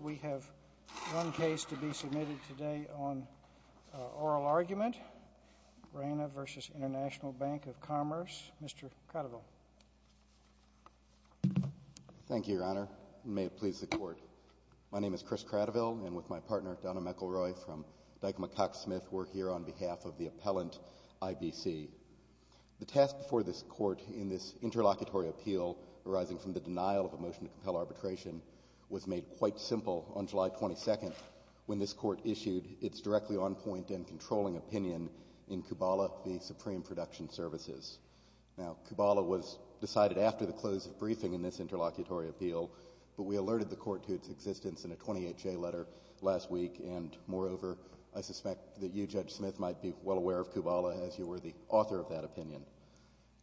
We have one case to be submitted today on oral argument. Reyna v. International Bank of Commerce. Mr. Cradiville. Thank you, Your Honor, and may it please the Court. My name is Chris Cradiville, and with my partner Donna McElroy from Dyke-McCox Smith, we're here on behalf of the appellant, I.B.C. The task before this Court in this interlocutory appeal arising from the denial of a motion to compel arbitration was made quite simple on July 22nd when this Court issued its directly on-point and controlling opinion in Kubala v. Supreme Production Services. Now, Kubala was decided after the close of briefing in this interlocutory appeal, but we alerted the Court to its existence in a 28-J letter last week, and moreover, I suspect that you, Judge Smith, might be well aware of Kubala as you were the author of that opinion.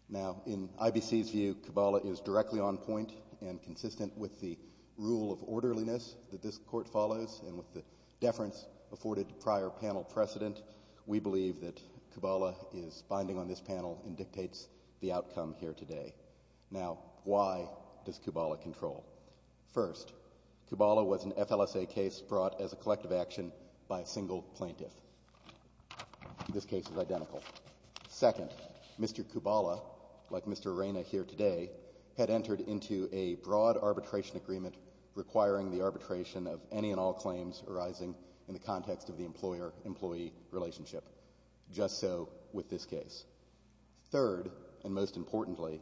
Now, in I.B.C.'s view, Kubala is directly on-point and consistent with the rule of orderliness that this Court follows, and with the deference afforded to prior panel precedent, we believe that Kubala is binding on this panel and dictates the outcome here today. Now, why does Kubala control? First, Kubala was an FLSA case brought as a collective action by a single plaintiff. This case is identical. Second, Mr. Kubala, like Mr. Reyna here today, had entered into a broad arbitration agreement requiring the arbitration of any and all claims arising in the context of the employer-employee relationship, just so with this case. Third, and most importantly,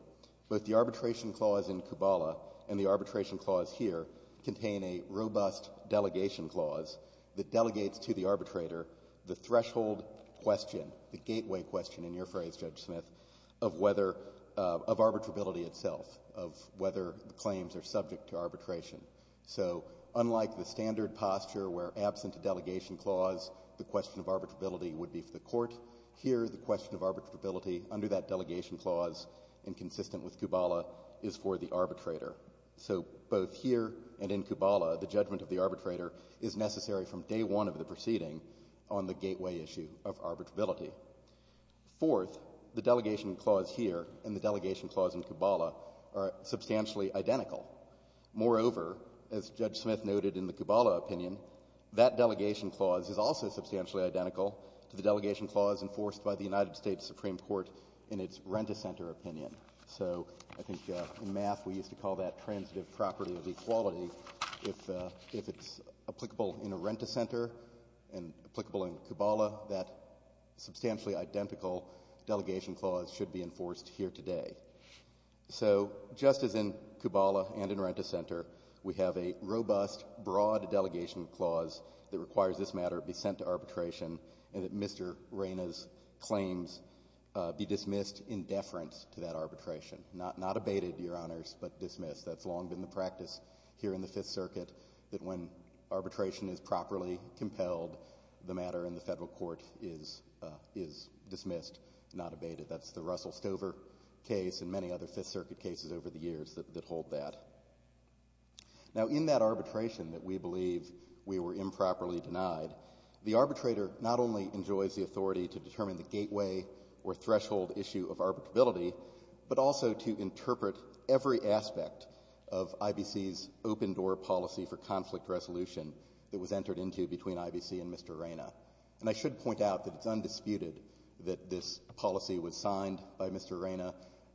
both the arbitration clause in Kubala and the arbitration clause here contain a robust delegation clause that delegates to the arbitrator the threshold question, the gateway question in your phrase, Judge Smith, of whether of arbitrability itself, of whether the claims are subject to arbitration. So unlike the standard posture where absent a delegation clause, the question of arbitrability would be for the Court, here the question of arbitrability under that delegation clause and consistent with Kubala is for the arbitrator. So both here and in Kubala, the judgment of the arbitrator is necessary from day one of the proceeding on the gateway issue of arbitrability. Fourth, the delegation clause here and the delegation clause in Kubala are substantially identical. Moreover, as Judge Smith noted in the Kubala opinion, that delegation clause is also substantially identical to the delegation clause enforced by the United States Supreme Court in its Renta Center opinion. So I think in math we used to call that transitive property of equality. If it's applicable in a Renta Center and applicable in Kubala, that substantially identical delegation clause should be enforced here today. So just as in Kubala and in Renta Center, we have a robust, broad delegation clause that requires this matter be sent to arbitration and that Mr. Reyna's claims be dismissed in deference to that arbitration. Not abated, Your Honors, but dismissed. That's long been the practice here in the Fifth Circuit that when arbitration is properly compelled, the matter in the Federal Court is dismissed, not abated. That's the Russell Stover case and many other Fifth Circuit cases over the years that hold that. Now, in that arbitration that we believe we were improperly denied, the arbitrator not only enjoys the authority to determine the gateway or threshold issue of arbitrability, but also to interpret every aspect of IBC's open-door policy for conflict resolution that was entered into between IBC and Mr. Reyna. And I should point out that it's undisputed that this policy was signed by Mr. Reyna.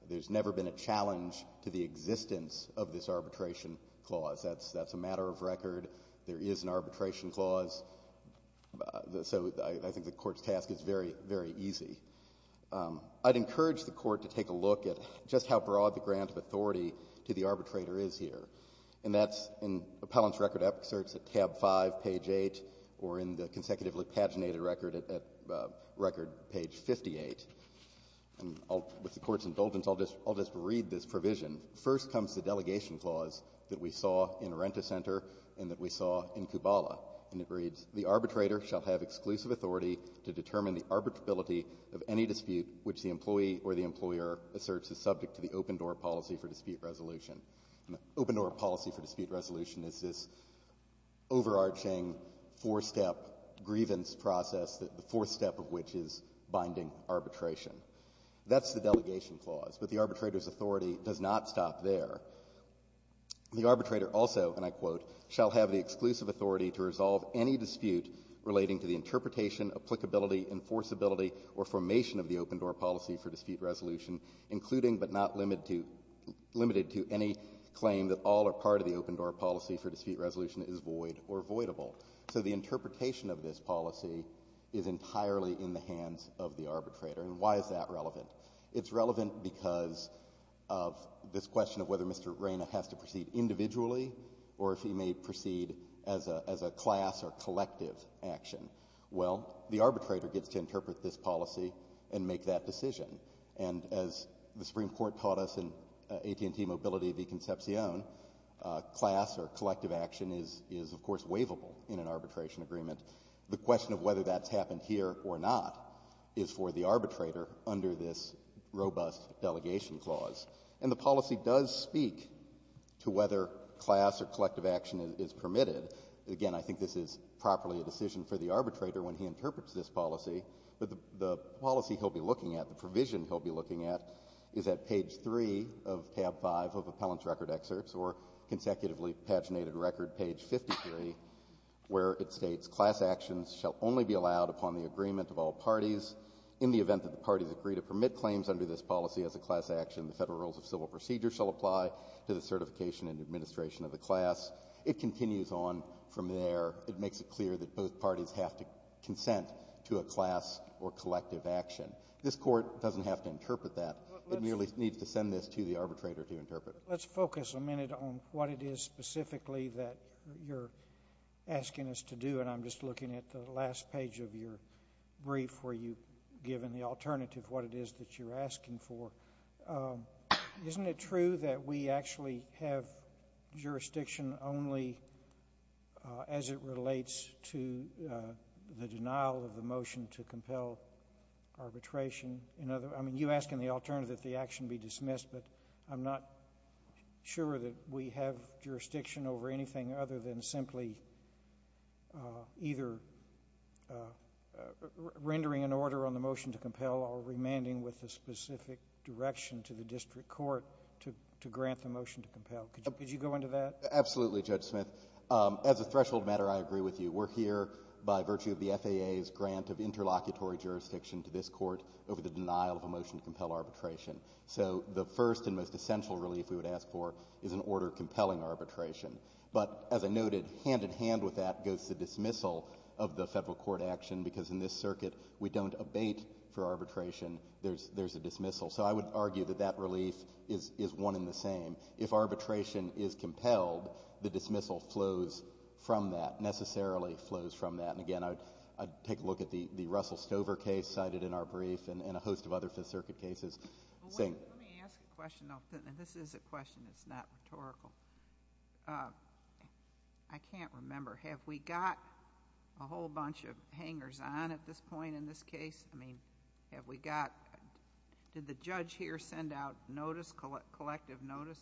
There's never been a challenge to the existence of this arbitration clause. That's a matter of record. There is an arbitration clause. So I think the Court's task is very, very easy. I'd encourage the Court to take a look at just how broad the grant of authority to the arbitrator is here. And that's in appellant's record excerpts at tab 5, page 8, or in the consecutively paginated record at record page 58. And with the Court's indulgence, I'll just read this provision. First comes the delegation clause that we saw in Arendta Center and that we saw in Kubala, and it reads, The arbitrator shall have exclusive authority to determine the arbitrability of any dispute which the employee or the employer asserts is subject to the open-door policy for dispute resolution. An open-door policy for dispute resolution is this overarching four-step grievance process, the fourth step of which is binding arbitration. That's the delegation clause, but the arbitrator's authority does not stop there. The arbitrator also, and I quote, shall have the exclusive authority to resolve any dispute relating to the interpretation, applicability, enforceability, or formation of the open-door policy for dispute resolution, including but not limited to any claim that all or part of the open-door policy for dispute resolution is void or voidable. So the interpretation of this policy is entirely in the hands of the arbitrator. And why is that relevant? It's relevant because of this question of whether Mr. Reina has to proceed individually or if he may proceed as a class or collective action. Well, the arbitrator gets to interpret this policy and make that decision. And as the Supreme Court taught us in AT&T Mobility v. Concepcion, class or collective action is, of course, waivable in an arbitration agreement. The question of whether that's happened here or not is for the arbitrator under this robust delegation clause. And the policy does speak to whether class or collective action is permitted. Again, I think this is properly a decision for the arbitrator when he interprets this policy, but the policy he'll be looking at, the provision he'll be looking at, is at page 3 of tab 5 of appellant's record excerpts or consecutively paginated record, page 53, where it states, Class actions shall only be allowed upon the agreement of all parties. In the event that the parties agree to permit claims under this policy as a class action, the Federal rules of civil procedure shall apply to the certification and administration of the class. It continues on from there. It makes it clear that both parties have to consent to a class or collective action. This Court doesn't have to interpret that. It merely needs to send this to the arbitrator to interpret it. Let's focus a minute on what it is specifically that you're asking us to do, and I'm just looking at the last page of your brief where you've given the alternative what it is that you're asking for. Isn't it true that we actually have jurisdiction only as it relates to the denial of the motion to compel arbitration? I mean, you ask in the alternative that the action be dismissed, but I'm not sure that we have jurisdiction over anything other than simply either rendering an order on the motion to compel or remanding with a specific direction to the district court to grant the motion to compel. Could you go into that? Absolutely, Judge Smith. As a threshold matter, I agree with you. We're here by virtue of the FAA's grant of interlocutory jurisdiction to this case, which is the denial of a motion to compel arbitration. So the first and most essential relief we would ask for is an order compelling arbitration. But as I noted, hand-in-hand with that goes the dismissal of the Federal court action, because in this circuit, we don't abate for arbitration. There's a dismissal. So I would argue that that relief is one and the same. If arbitration is compelled, the dismissal flows from that, necessarily flows from that. And again, I'd take a look at the Russell Stover case cited in our brief and a host of other Fifth Circuit cases. Let me ask a question, though. This is a question that's not rhetorical. I can't remember. Have we got a whole bunch of hangers-on at this point in this case? I mean, have we got – did the judge here send out notice, collective notice?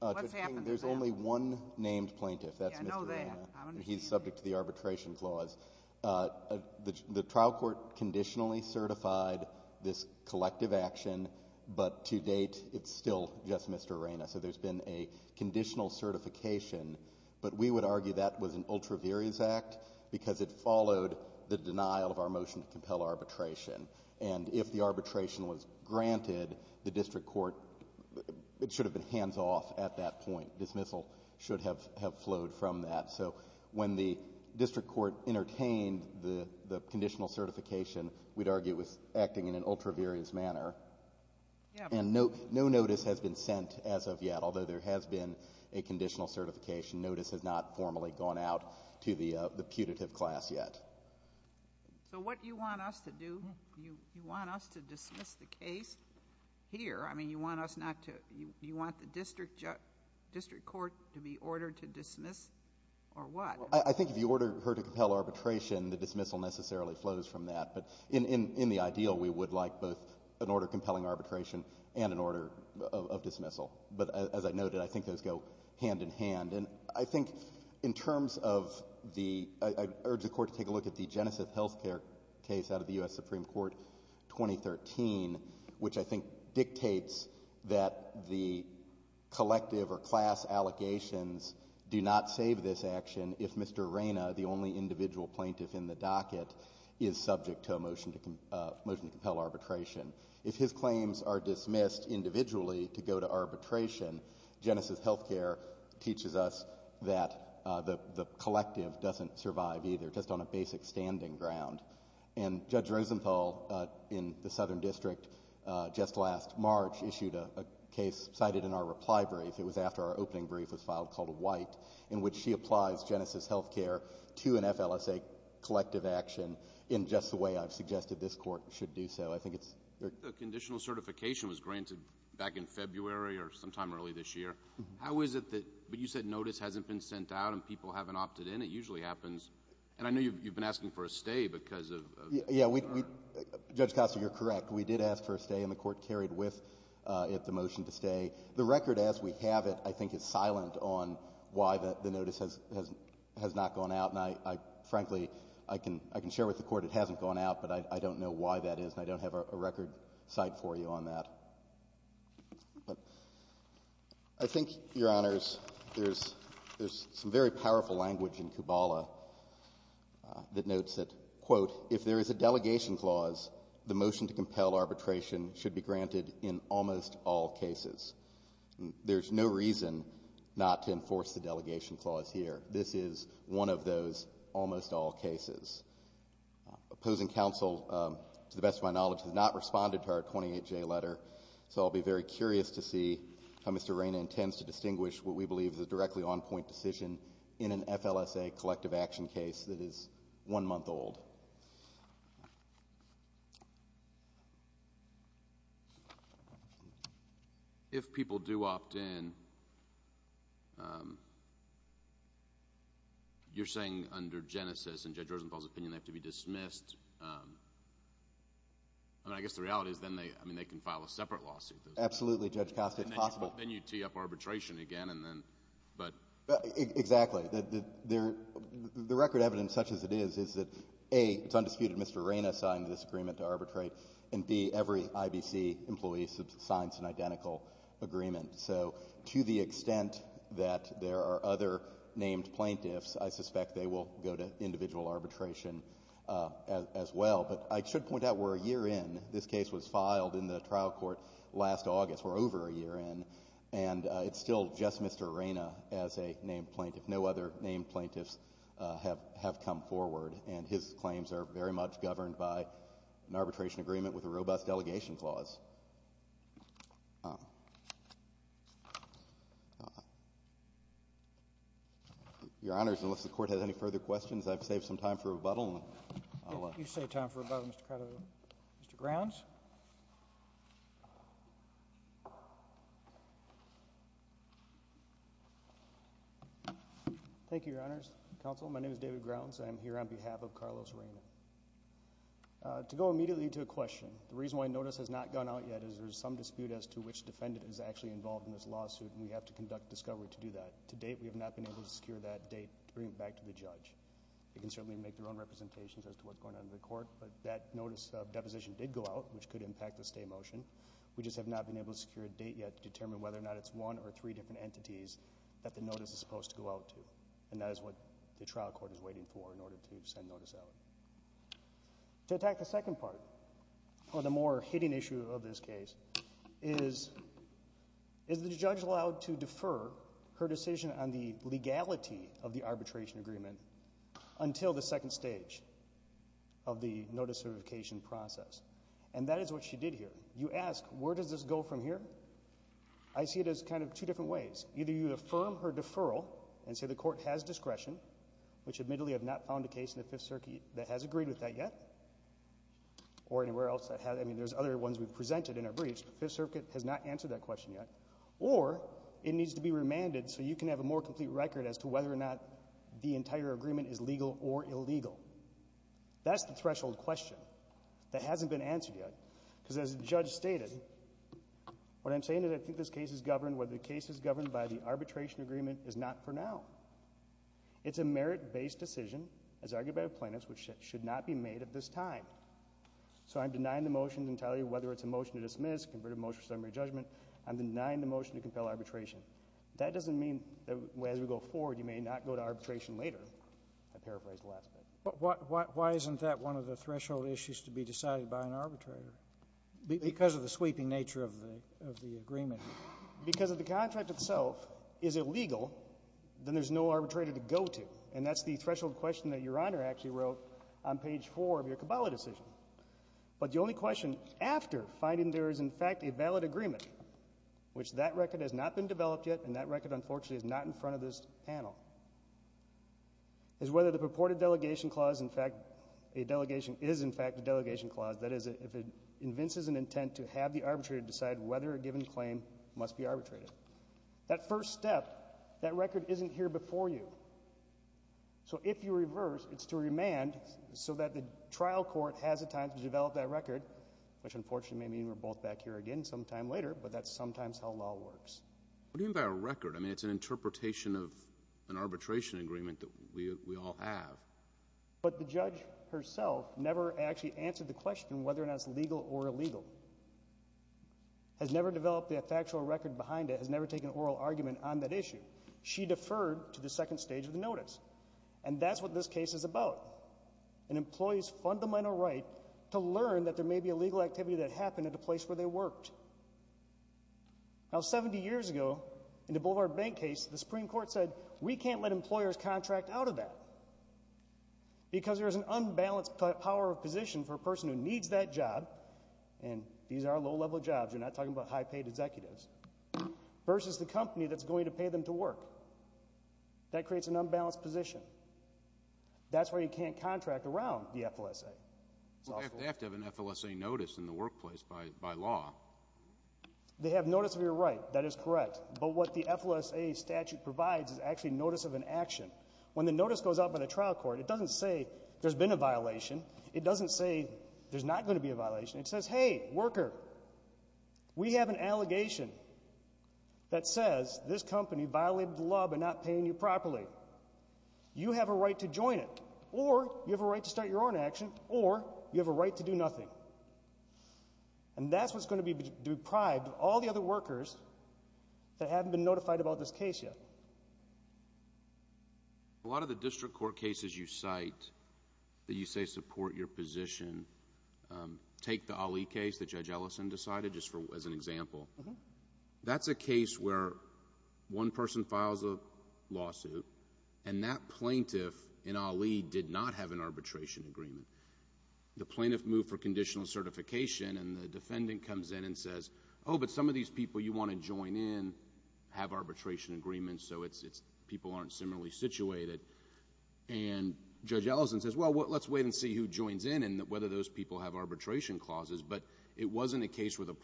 What's happened to that? There's only one named plaintiff. That's Mr. Rana. I know that. He's subject to the arbitration clause. The trial court conditionally certified this collective action, but to date, it's still just Mr. Rana. So there's been a conditional certification. But we would argue that was an ultraviarious act because it followed the denial of our motion to compel arbitration. And if the arbitration was granted, the district court – it should have been hands off at that point. Dismissal should have flowed from that. So when the district court entertained the conditional certification, we'd argue it was acting in an ultraviarious manner. And no notice has been sent as of yet, although there has been a conditional certification. Notice has not formally gone out to the putative class yet. So what you want us to do, you want us to dismiss the case here? I mean, you want us not to – you want the district court to be ordered to dismiss or what? Well, I think if you order her to compel arbitration, the dismissal necessarily flows from that. But in the ideal, we would like both an order compelling arbitration and an order of dismissal. But as I noted, I think those go hand in hand. And I think in terms of the – I urge the Court to take a look at the Genesis Healthcare case out of the U.S. Supreme Court 2013, which I think dictates that the collective or class allegations do not save this action if Mr. Reyna, the only individual plaintiff in the docket, is subject to a motion to compel arbitration. If his claims are dismissed individually to go to arbitration, Genesis Healthcare teaches us that the collective doesn't survive either, just on a basic standing ground. And Judge Rosenthal in the Southern District just last March issued a case cited in our reply brief. It was after our opening brief was filed, called White, in which she applies Genesis Healthcare to an FLSA collective action in just the way I've suggested this Court should do so. I think it's – The conditional certification was granted back in February or sometime early this year. How is it that – but you said notice hasn't been sent out and people haven't opted in. It usually happens. And I know you've been asking for a stay because of – Yeah. Judge Costa, you're correct. We did ask for a stay and the Court carried with it the motion to stay. The record as we have it I think is silent on why the notice has not gone out. And I – frankly, I can share with the Court it hasn't gone out, but I don't know why that is and I don't have a record cite for you on that. But I think, Your Honors, there's some very powerful language in Kubala that notes that, quote, if there is a delegation clause, the motion to compel arbitration should be granted in almost all cases. There's no reason not to enforce the delegation clause here. This is one of those almost all cases. Opposing counsel, to the best of my knowledge, has not responded to our 28J letter, so I'll be very curious to see how Mr. Raina intends to distinguish what we believe is a directly on-point decision in an FLSA collective action case that is one month old. If people do opt in, you're saying under Genesis, in Judge Rosenthal's opinion, they have to be dismissed. I mean, I guess the reality is then they can file a separate lawsuit. Absolutely, Judge Costa. It's possible. Then you tee up arbitration again and then – but – Exactly. The record evidence, such as it is, is that, A, it's undisputed Mr. Raina signed this agreement to arbitrate, and, B, every IBC employee signs an identical agreement. So to the extent that there are other named plaintiffs, I suspect they will go to as well. But I should point out we're a year in. This case was filed in the trial court last August. We're over a year in. And it's still just Mr. Raina as a named plaintiff. No other named plaintiffs have come forward. And his claims are very much governed by an arbitration agreement with a robust delegation clause. Your Honors, unless the Court has any further questions, I've saved some time for rebuttal. If you save time for rebuttal, Mr. Craddo. Mr. Grounds? Thank you, Your Honors. Counsel, my name is David Grounds. I am here on behalf of Carlos Raina. To go immediately to a question, the reason why notice has not gone out yet is there's some dispute as to which defendant is actually involved in this lawsuit, and we have to conduct discovery to do that. To date, we have not been able to secure that date to bring it back to the judge. They can certainly make their own representations as to what's going on in the court, but that notice of deposition did go out, which could impact the stay motion. We just have not been able to secure a date yet to determine whether or not it's one or three different entities that the notice is supposed to go out to. And that is what the trial court is waiting for in order to send notice out. To attack the second part, or the more hitting issue of this case, is the judge allowed to wait until the second stage of the notice certification process. And that is what she did here. You ask, where does this go from here? I see it as kind of two different ways. Either you affirm her deferral and say the court has discretion, which admittedly I have not found a case in the Fifth Circuit that has agreed with that yet, or anywhere else that has. I mean, there's other ones we've presented in our briefs, but Fifth Circuit has not answered that question yet. Or it needs to be remanded so you can have a more complete record as to whether or not the entire agreement is legal or illegal. That's the threshold question that hasn't been answered yet. Because as the judge stated, what I'm saying is I think this case is governed, whether the case is governed by the arbitration agreement, is not for now. It's a merit-based decision, as argued by the plaintiffs, which should not be made at this time. So I'm denying the motion to tell you whether it's a motion to dismiss, convert a motion to summary judgment. I'm denying the motion to compel arbitration. That doesn't mean that as we go forward you may not go to arbitration later. I paraphrased the last bit. But why isn't that one of the threshold issues to be decided by an arbitrator, because of the sweeping nature of the agreement? Because if the contract itself is illegal, then there's no arbitrator to go to. And that's the threshold question that Your Honor actually wrote on page 4 of your Cabala decision. But the only question after finding there is, in fact, a valid agreement, which that record has not been developed yet and that record, unfortunately, is not in front of this panel, is whether the purported delegation clause, in fact, a delegation is, in fact, a delegation clause. That is, if it convinces an intent to have the arbitrator decide whether a given claim must be arbitrated. That first step, that record isn't here before you. So if you reverse, it's to remand so that the trial court has the time to develop that record, which unfortunately may mean we're both back here again sometime later, but that's sometimes how law works. What do you mean by a record? I mean, it's an interpretation of an arbitration agreement that we all have. But the judge herself never actually answered the question whether or not it's legal or illegal, has never developed a factual record behind it, has never taken an oral argument on that issue. She deferred to the second stage of the notice. And that's what this case is about, an employee's fundamental right to learn that there may be a legal activity that happened at a place where they worked. Now, 70 years ago, in the Boulevard Bank case, the Supreme Court said we can't let employers contract out of that because there's an unbalanced power of position for a person who needs that job, and these are low-level jobs, you're not talking about high-paid executives, versus the company that's going to pay them to work. That creates an unbalanced position. That's why you can't contract around the FLSA. They have to have an FLSA notice in the workplace by law. They have notice of your right. That is correct. But what the FLSA statute provides is actually notice of an action. When the notice goes out by the trial court, it doesn't say there's been a violation. It doesn't say there's not going to be a violation. It says, hey, worker, we have an allegation that says this company violated the law by not paying you properly. You have a right to join it, or you have a right to start your own action, or you have a right to do nothing. And that's what's going to deprive all the other workers that haven't been notified about this case yet. A lot of the district court cases you cite that you say support your position, take the Ali case that Judge Ellison decided, just as an example. That's a case where one person files a lawsuit, and that plaintiff in Ali did not have an arbitration agreement. The plaintiff moved for conditional certification, and the defendant comes in and says, oh, but some of these people you want to join in have arbitration agreements, so people aren't similarly situated. And Judge Ellison says, well, let's wait and see who joins in and whether those people have arbitration clauses. But it wasn't a case where the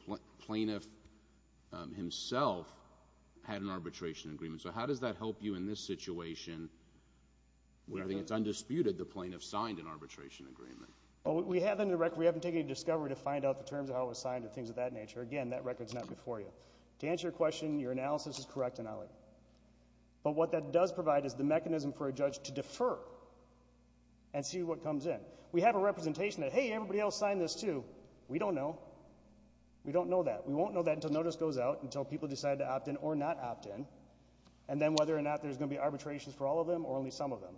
plaintiff himself had an arbitration agreement. So how does that help you in this situation where I think it's undisputed the plaintiff signed an arbitration agreement? Well, we haven't taken any discovery to find out the terms of how it was signed and things of that nature. Again, that record's not before you. To answer your question, your analysis is correct in Ali. But what that does provide is the mechanism for a judge to defer and see what comes in. We have a representation that, hey, everybody else signed this too. We don't know. We don't know that. We won't know that until notice goes out, until people decide to opt in or not opt in, and then whether or not there's going to be arbitrations for all of them or only some of them.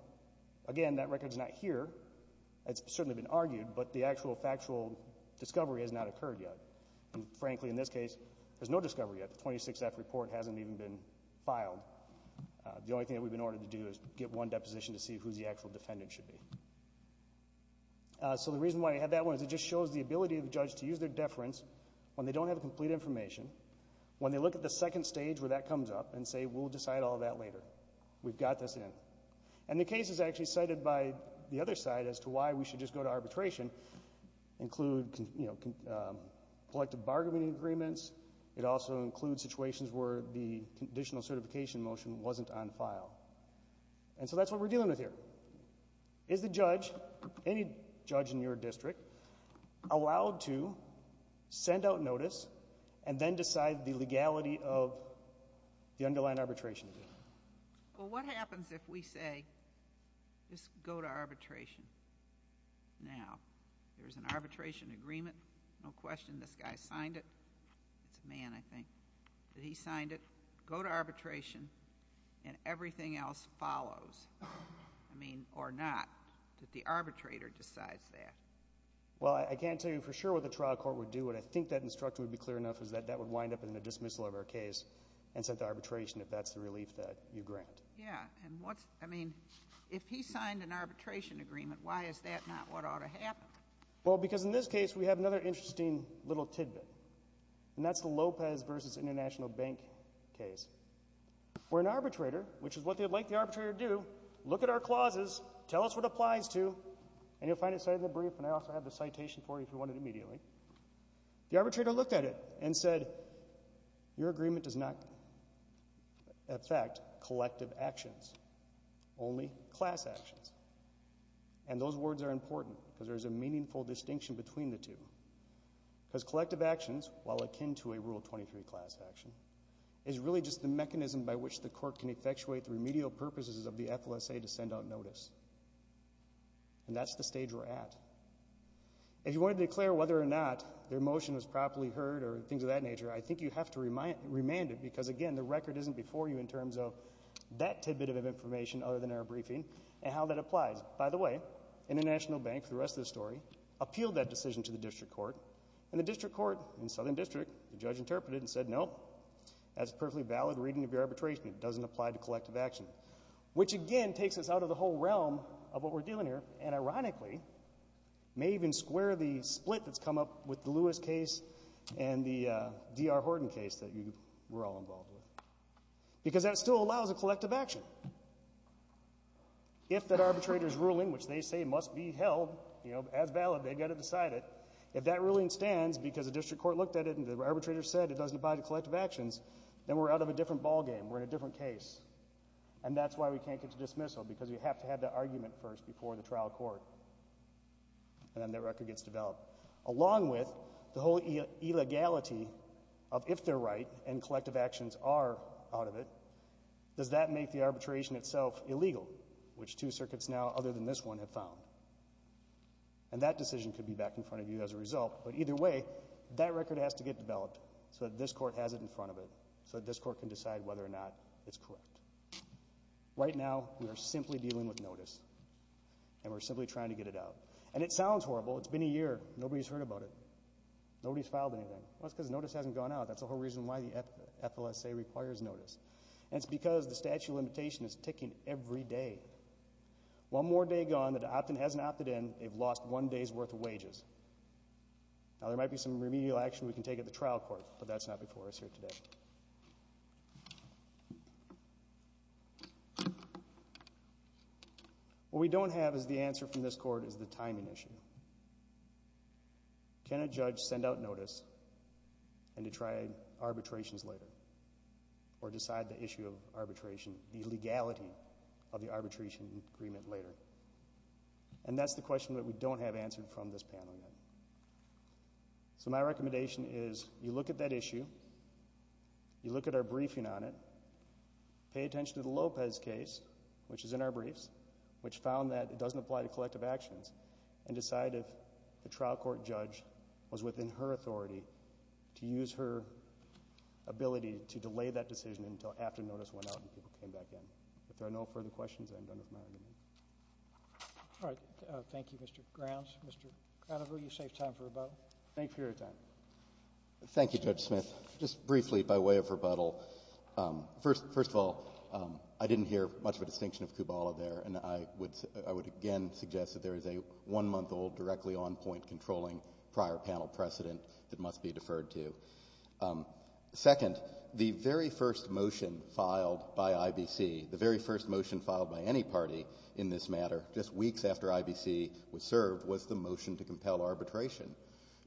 Again, that record's not here. It's certainly been argued, but the actual factual discovery has not occurred yet. And frankly, in this case, there's no discovery yet. The 26-F report hasn't even been filed. The only thing that we've been ordered to do is get one deposition to see who the actual defendant should be. So the reason why I have that one is it just shows the ability of a judge to use their deference when they don't have complete information, when they look at the second stage where that comes up and say, we'll decide all that later. We've got this in. And the cases actually cited by the other side as to why we should just go to arbitration include collective bargaining agreements. It also includes situations where the conditional certification motion wasn't on file. And so that's what we're dealing with here. Is the judge, any judge in your district, allowed to send out notice and then decide the legality of the underlying arbitration? Well, what happens if we say, just go to arbitration now? There's an arbitration agreement. No question this guy signed it. It's a man, I think, that he signed it. Go to arbitration and everything else follows. I mean, or not, that the arbitrator decides that. Well, I can't tell you for sure what the trial court would do. What I think that instruction would be clear enough is that that would wind up in the dismissal of our case and sent to arbitration if that's the relief that you grant. Yeah. And what's, I mean, if he signed an arbitration agreement, why is that not what ought to happen? Well, because in this case, we have another interesting little tidbit. And that's the Lopez versus International Bank case. Where an arbitrator, which is what they would like the arbitrator to do, look at our clauses, tell us what it applies to, and you'll find it cited in the brief, and I also have the citation for you if you want it immediately. The arbitrator looked at it and said, your agreement does not affect collective actions, only class actions. And those words are important because there's a meaningful distinction between the two. Because collective actions, while akin to a Rule 23 class action, is really just the mechanism by which the court can effectuate the remedial purposes of the FLSA to send out notice. And that's the stage we're at. If you want to declare whether or not their motion was properly heard or things of that nature, I think you have to remand it because, again, the record isn't before you in terms of that tidbit of information other than our briefing and how that applies. By the way, International Bank, for the rest of the story, appealed that decision to the district court. And the district court in Southern District, the judge interpreted and said, no, that's perfectly valid reading of your arbitration. It doesn't apply to collective action. Which, again, takes us out of the whole realm of what we're dealing here and, ironically, may even square the split that's come up with the Lewis case and the D.R. Horton case that you were all involved with. Because that still allows a collective action. If that arbitrator's ruling, which they say must be held, you know, as valid, they've got to decide it. If that ruling stands because the district court looked at it and the arbitrator said it doesn't apply to collective actions, then we're out of a different ballgame. We're in a different case. And that's why we can't get to dismissal because we have to have the argument first before the trial court. And then that record gets developed. Along with the whole illegality of if they're right and collective actions are out of it, does that make the arbitration itself illegal, which two circuits now, other than this one, have found? And that decision could be back in front of you as a result. But either way, that record has to get developed so that this court has it in front of it, so that this court can decide whether or not it's correct. Right now, we are simply dealing with notice, and we're simply trying to get it out. And it sounds horrible. It's been a year. Nobody's heard about it. Nobody's filed anything. Well, it's because notice hasn't gone out. That's the whole reason why the FLSA requires notice. And it's because the statute of limitation is ticking every day. One more day gone, the opt-in hasn't opted in, they've lost one day's worth of wages. Now, there might be some remedial action we can take at the trial court, but that's not before us here today. What we don't have is the answer from this court is the timing issue. Can a judge send out notice and to try arbitrations later or decide the issue of arbitration, the legality of the arbitration agreement later? And that's the question that we don't have answered from this panel yet. So my recommendation is you look at that issue, you look at our briefing on it, pay attention to the Lopez case, which is in our briefs, which found that it doesn't apply to collective actions and decide if the trial court judge was within her authority to use her ability to delay that decision until after notice went out and people came back in. If there are no further questions, I'm done with my argument. All right. Thank you, Mr. Grounds. Mr. Conover, you saved time for rebuttal. Thank you for your time. Thank you, Judge Smith. Just briefly by way of rebuttal, first of all, I didn't hear much of a distinction of Kubala there, and I would again suggest that there is a one-month-old directly on point controlling prior panel precedent that must be deferred to. Second, the very first motion filed by IBC, the very first motion filed by any party in this matter, just weeks after IBC was served, was the motion to compel arbitration.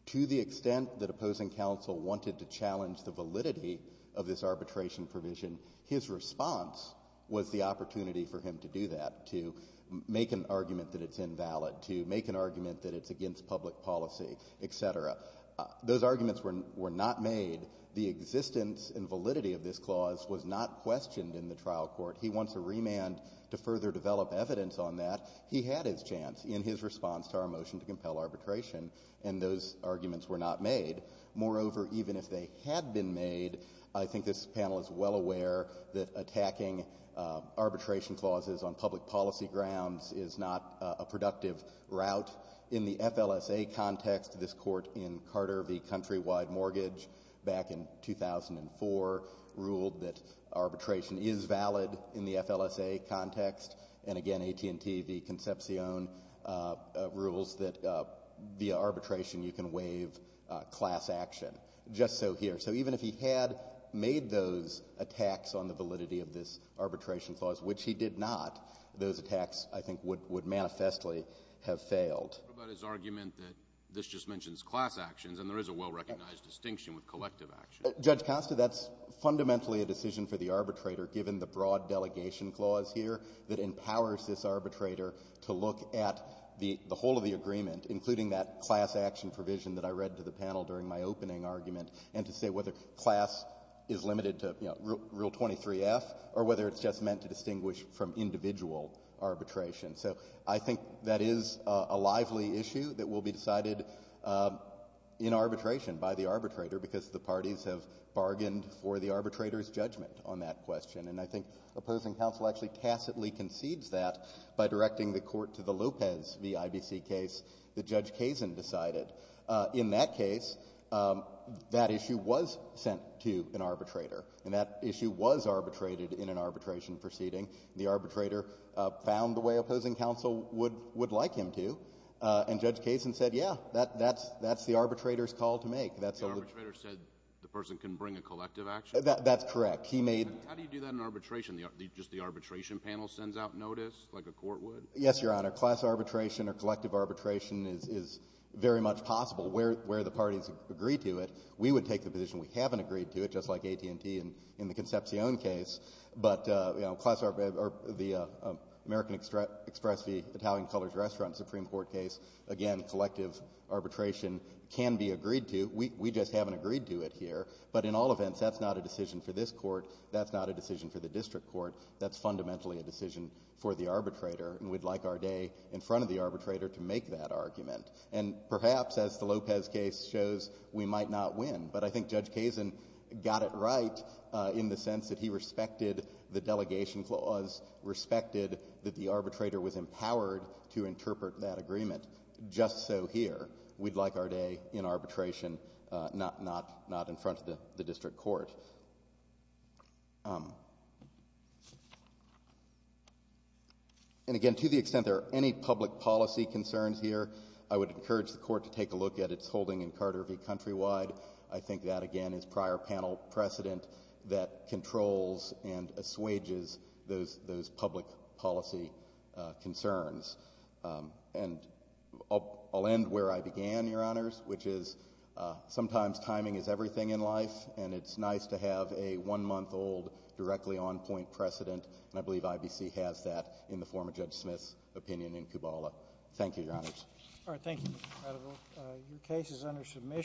To the extent that opposing counsel wanted to challenge the validity of this arbitration provision, his response was the opportunity for him to do that, to make an argument that it's invalid, to make an argument that it's against public policy, et cetera. Those arguments were not made. The existence and validity of this clause was not questioned in the trial court. He wants a remand to further develop evidence on that. He had his chance in his response to our motion to compel arbitration, and those arguments were not made. Moreover, even if they had been made, I think this panel is well aware that attacking arbitration clauses on public policy grounds is not a productive route. In the FLSA context, this court in Carter v. Countrywide Mortgage, back in 2004, ruled that arbitration is valid in the FLSA context. And again, AT&T v. Concepcion rules that via arbitration you can waive class action. Just so here. So even if he had made those attacks on the validity of this arbitration clause, which he did not, those attacks, I think, would manifestly have failed. What about his argument that this just mentions class actions, and there is a well-recognized distinction with collective action? Judge Costa, that's fundamentally a decision for the arbitrator, given the broad delegation clause here that empowers this arbitrator to look at the whole of the agreement, including that class action provision that I read to the panel during my opening argument, and to say whether class is limited to, you know, Rule 23-F or whether it's just meant to distinguish from individual arbitration. So I think that is a lively issue that will be decided in arbitration by the arbitrator because the parties have bargained for the arbitrator's judgment on that question. And I think opposing counsel actually tacitly concedes that by directing the court to the Lopez v. IBC case that Judge Kazin decided. In that case, that issue was sent to an arbitrator, and that issue was arbitrated in an arbitration proceeding. The arbitrator found the way opposing counsel would like him to, and Judge Kazin said, yeah, that's the arbitrator's call to make. The arbitrator said the person can bring a collective action? That's correct. How do you do that in arbitration, just the arbitration panel sends out notice like a court would? Yes, Your Honor. Class arbitration or collective arbitration is very much possible where the parties agree to it. We would take the position we haven't agreed to it, just like AT&T in the Concepcion case. But, you know, the American Express v. Italian Colors Restaurant Supreme Court case, again, collective arbitration can be agreed to. We just haven't agreed to it here. But in all events, that's not a decision for this Court. That's not a decision for the district court. That's fundamentally a decision for the arbitrator, and we'd like Arday in front of the arbitrator to make that argument. And perhaps, as the Lopez case shows, we might not win. But I think Judge Kazin got it right in the sense that he respected the delegation clause, respected that the arbitrator was empowered to interpret that agreement. Just so here, we'd like Arday in arbitration, not in front of the district court. And again, to the extent there are any public policy concerns here, I would encourage the Court to take a look at its holding in Carter v. Countrywide. I think that, again, is prior panel precedent that controls and assuages those public policy concerns. And I'll end where I began, Your Honors, which is sometimes timing is everything in life, and it's nice to have a one-month-old, directly on-point precedent. And I believe IBC has that in the form of Judge Smith's opinion in Kubala. Thank you, Your Honors. All right. Thank you, Mr. Credible. Your case is under submission.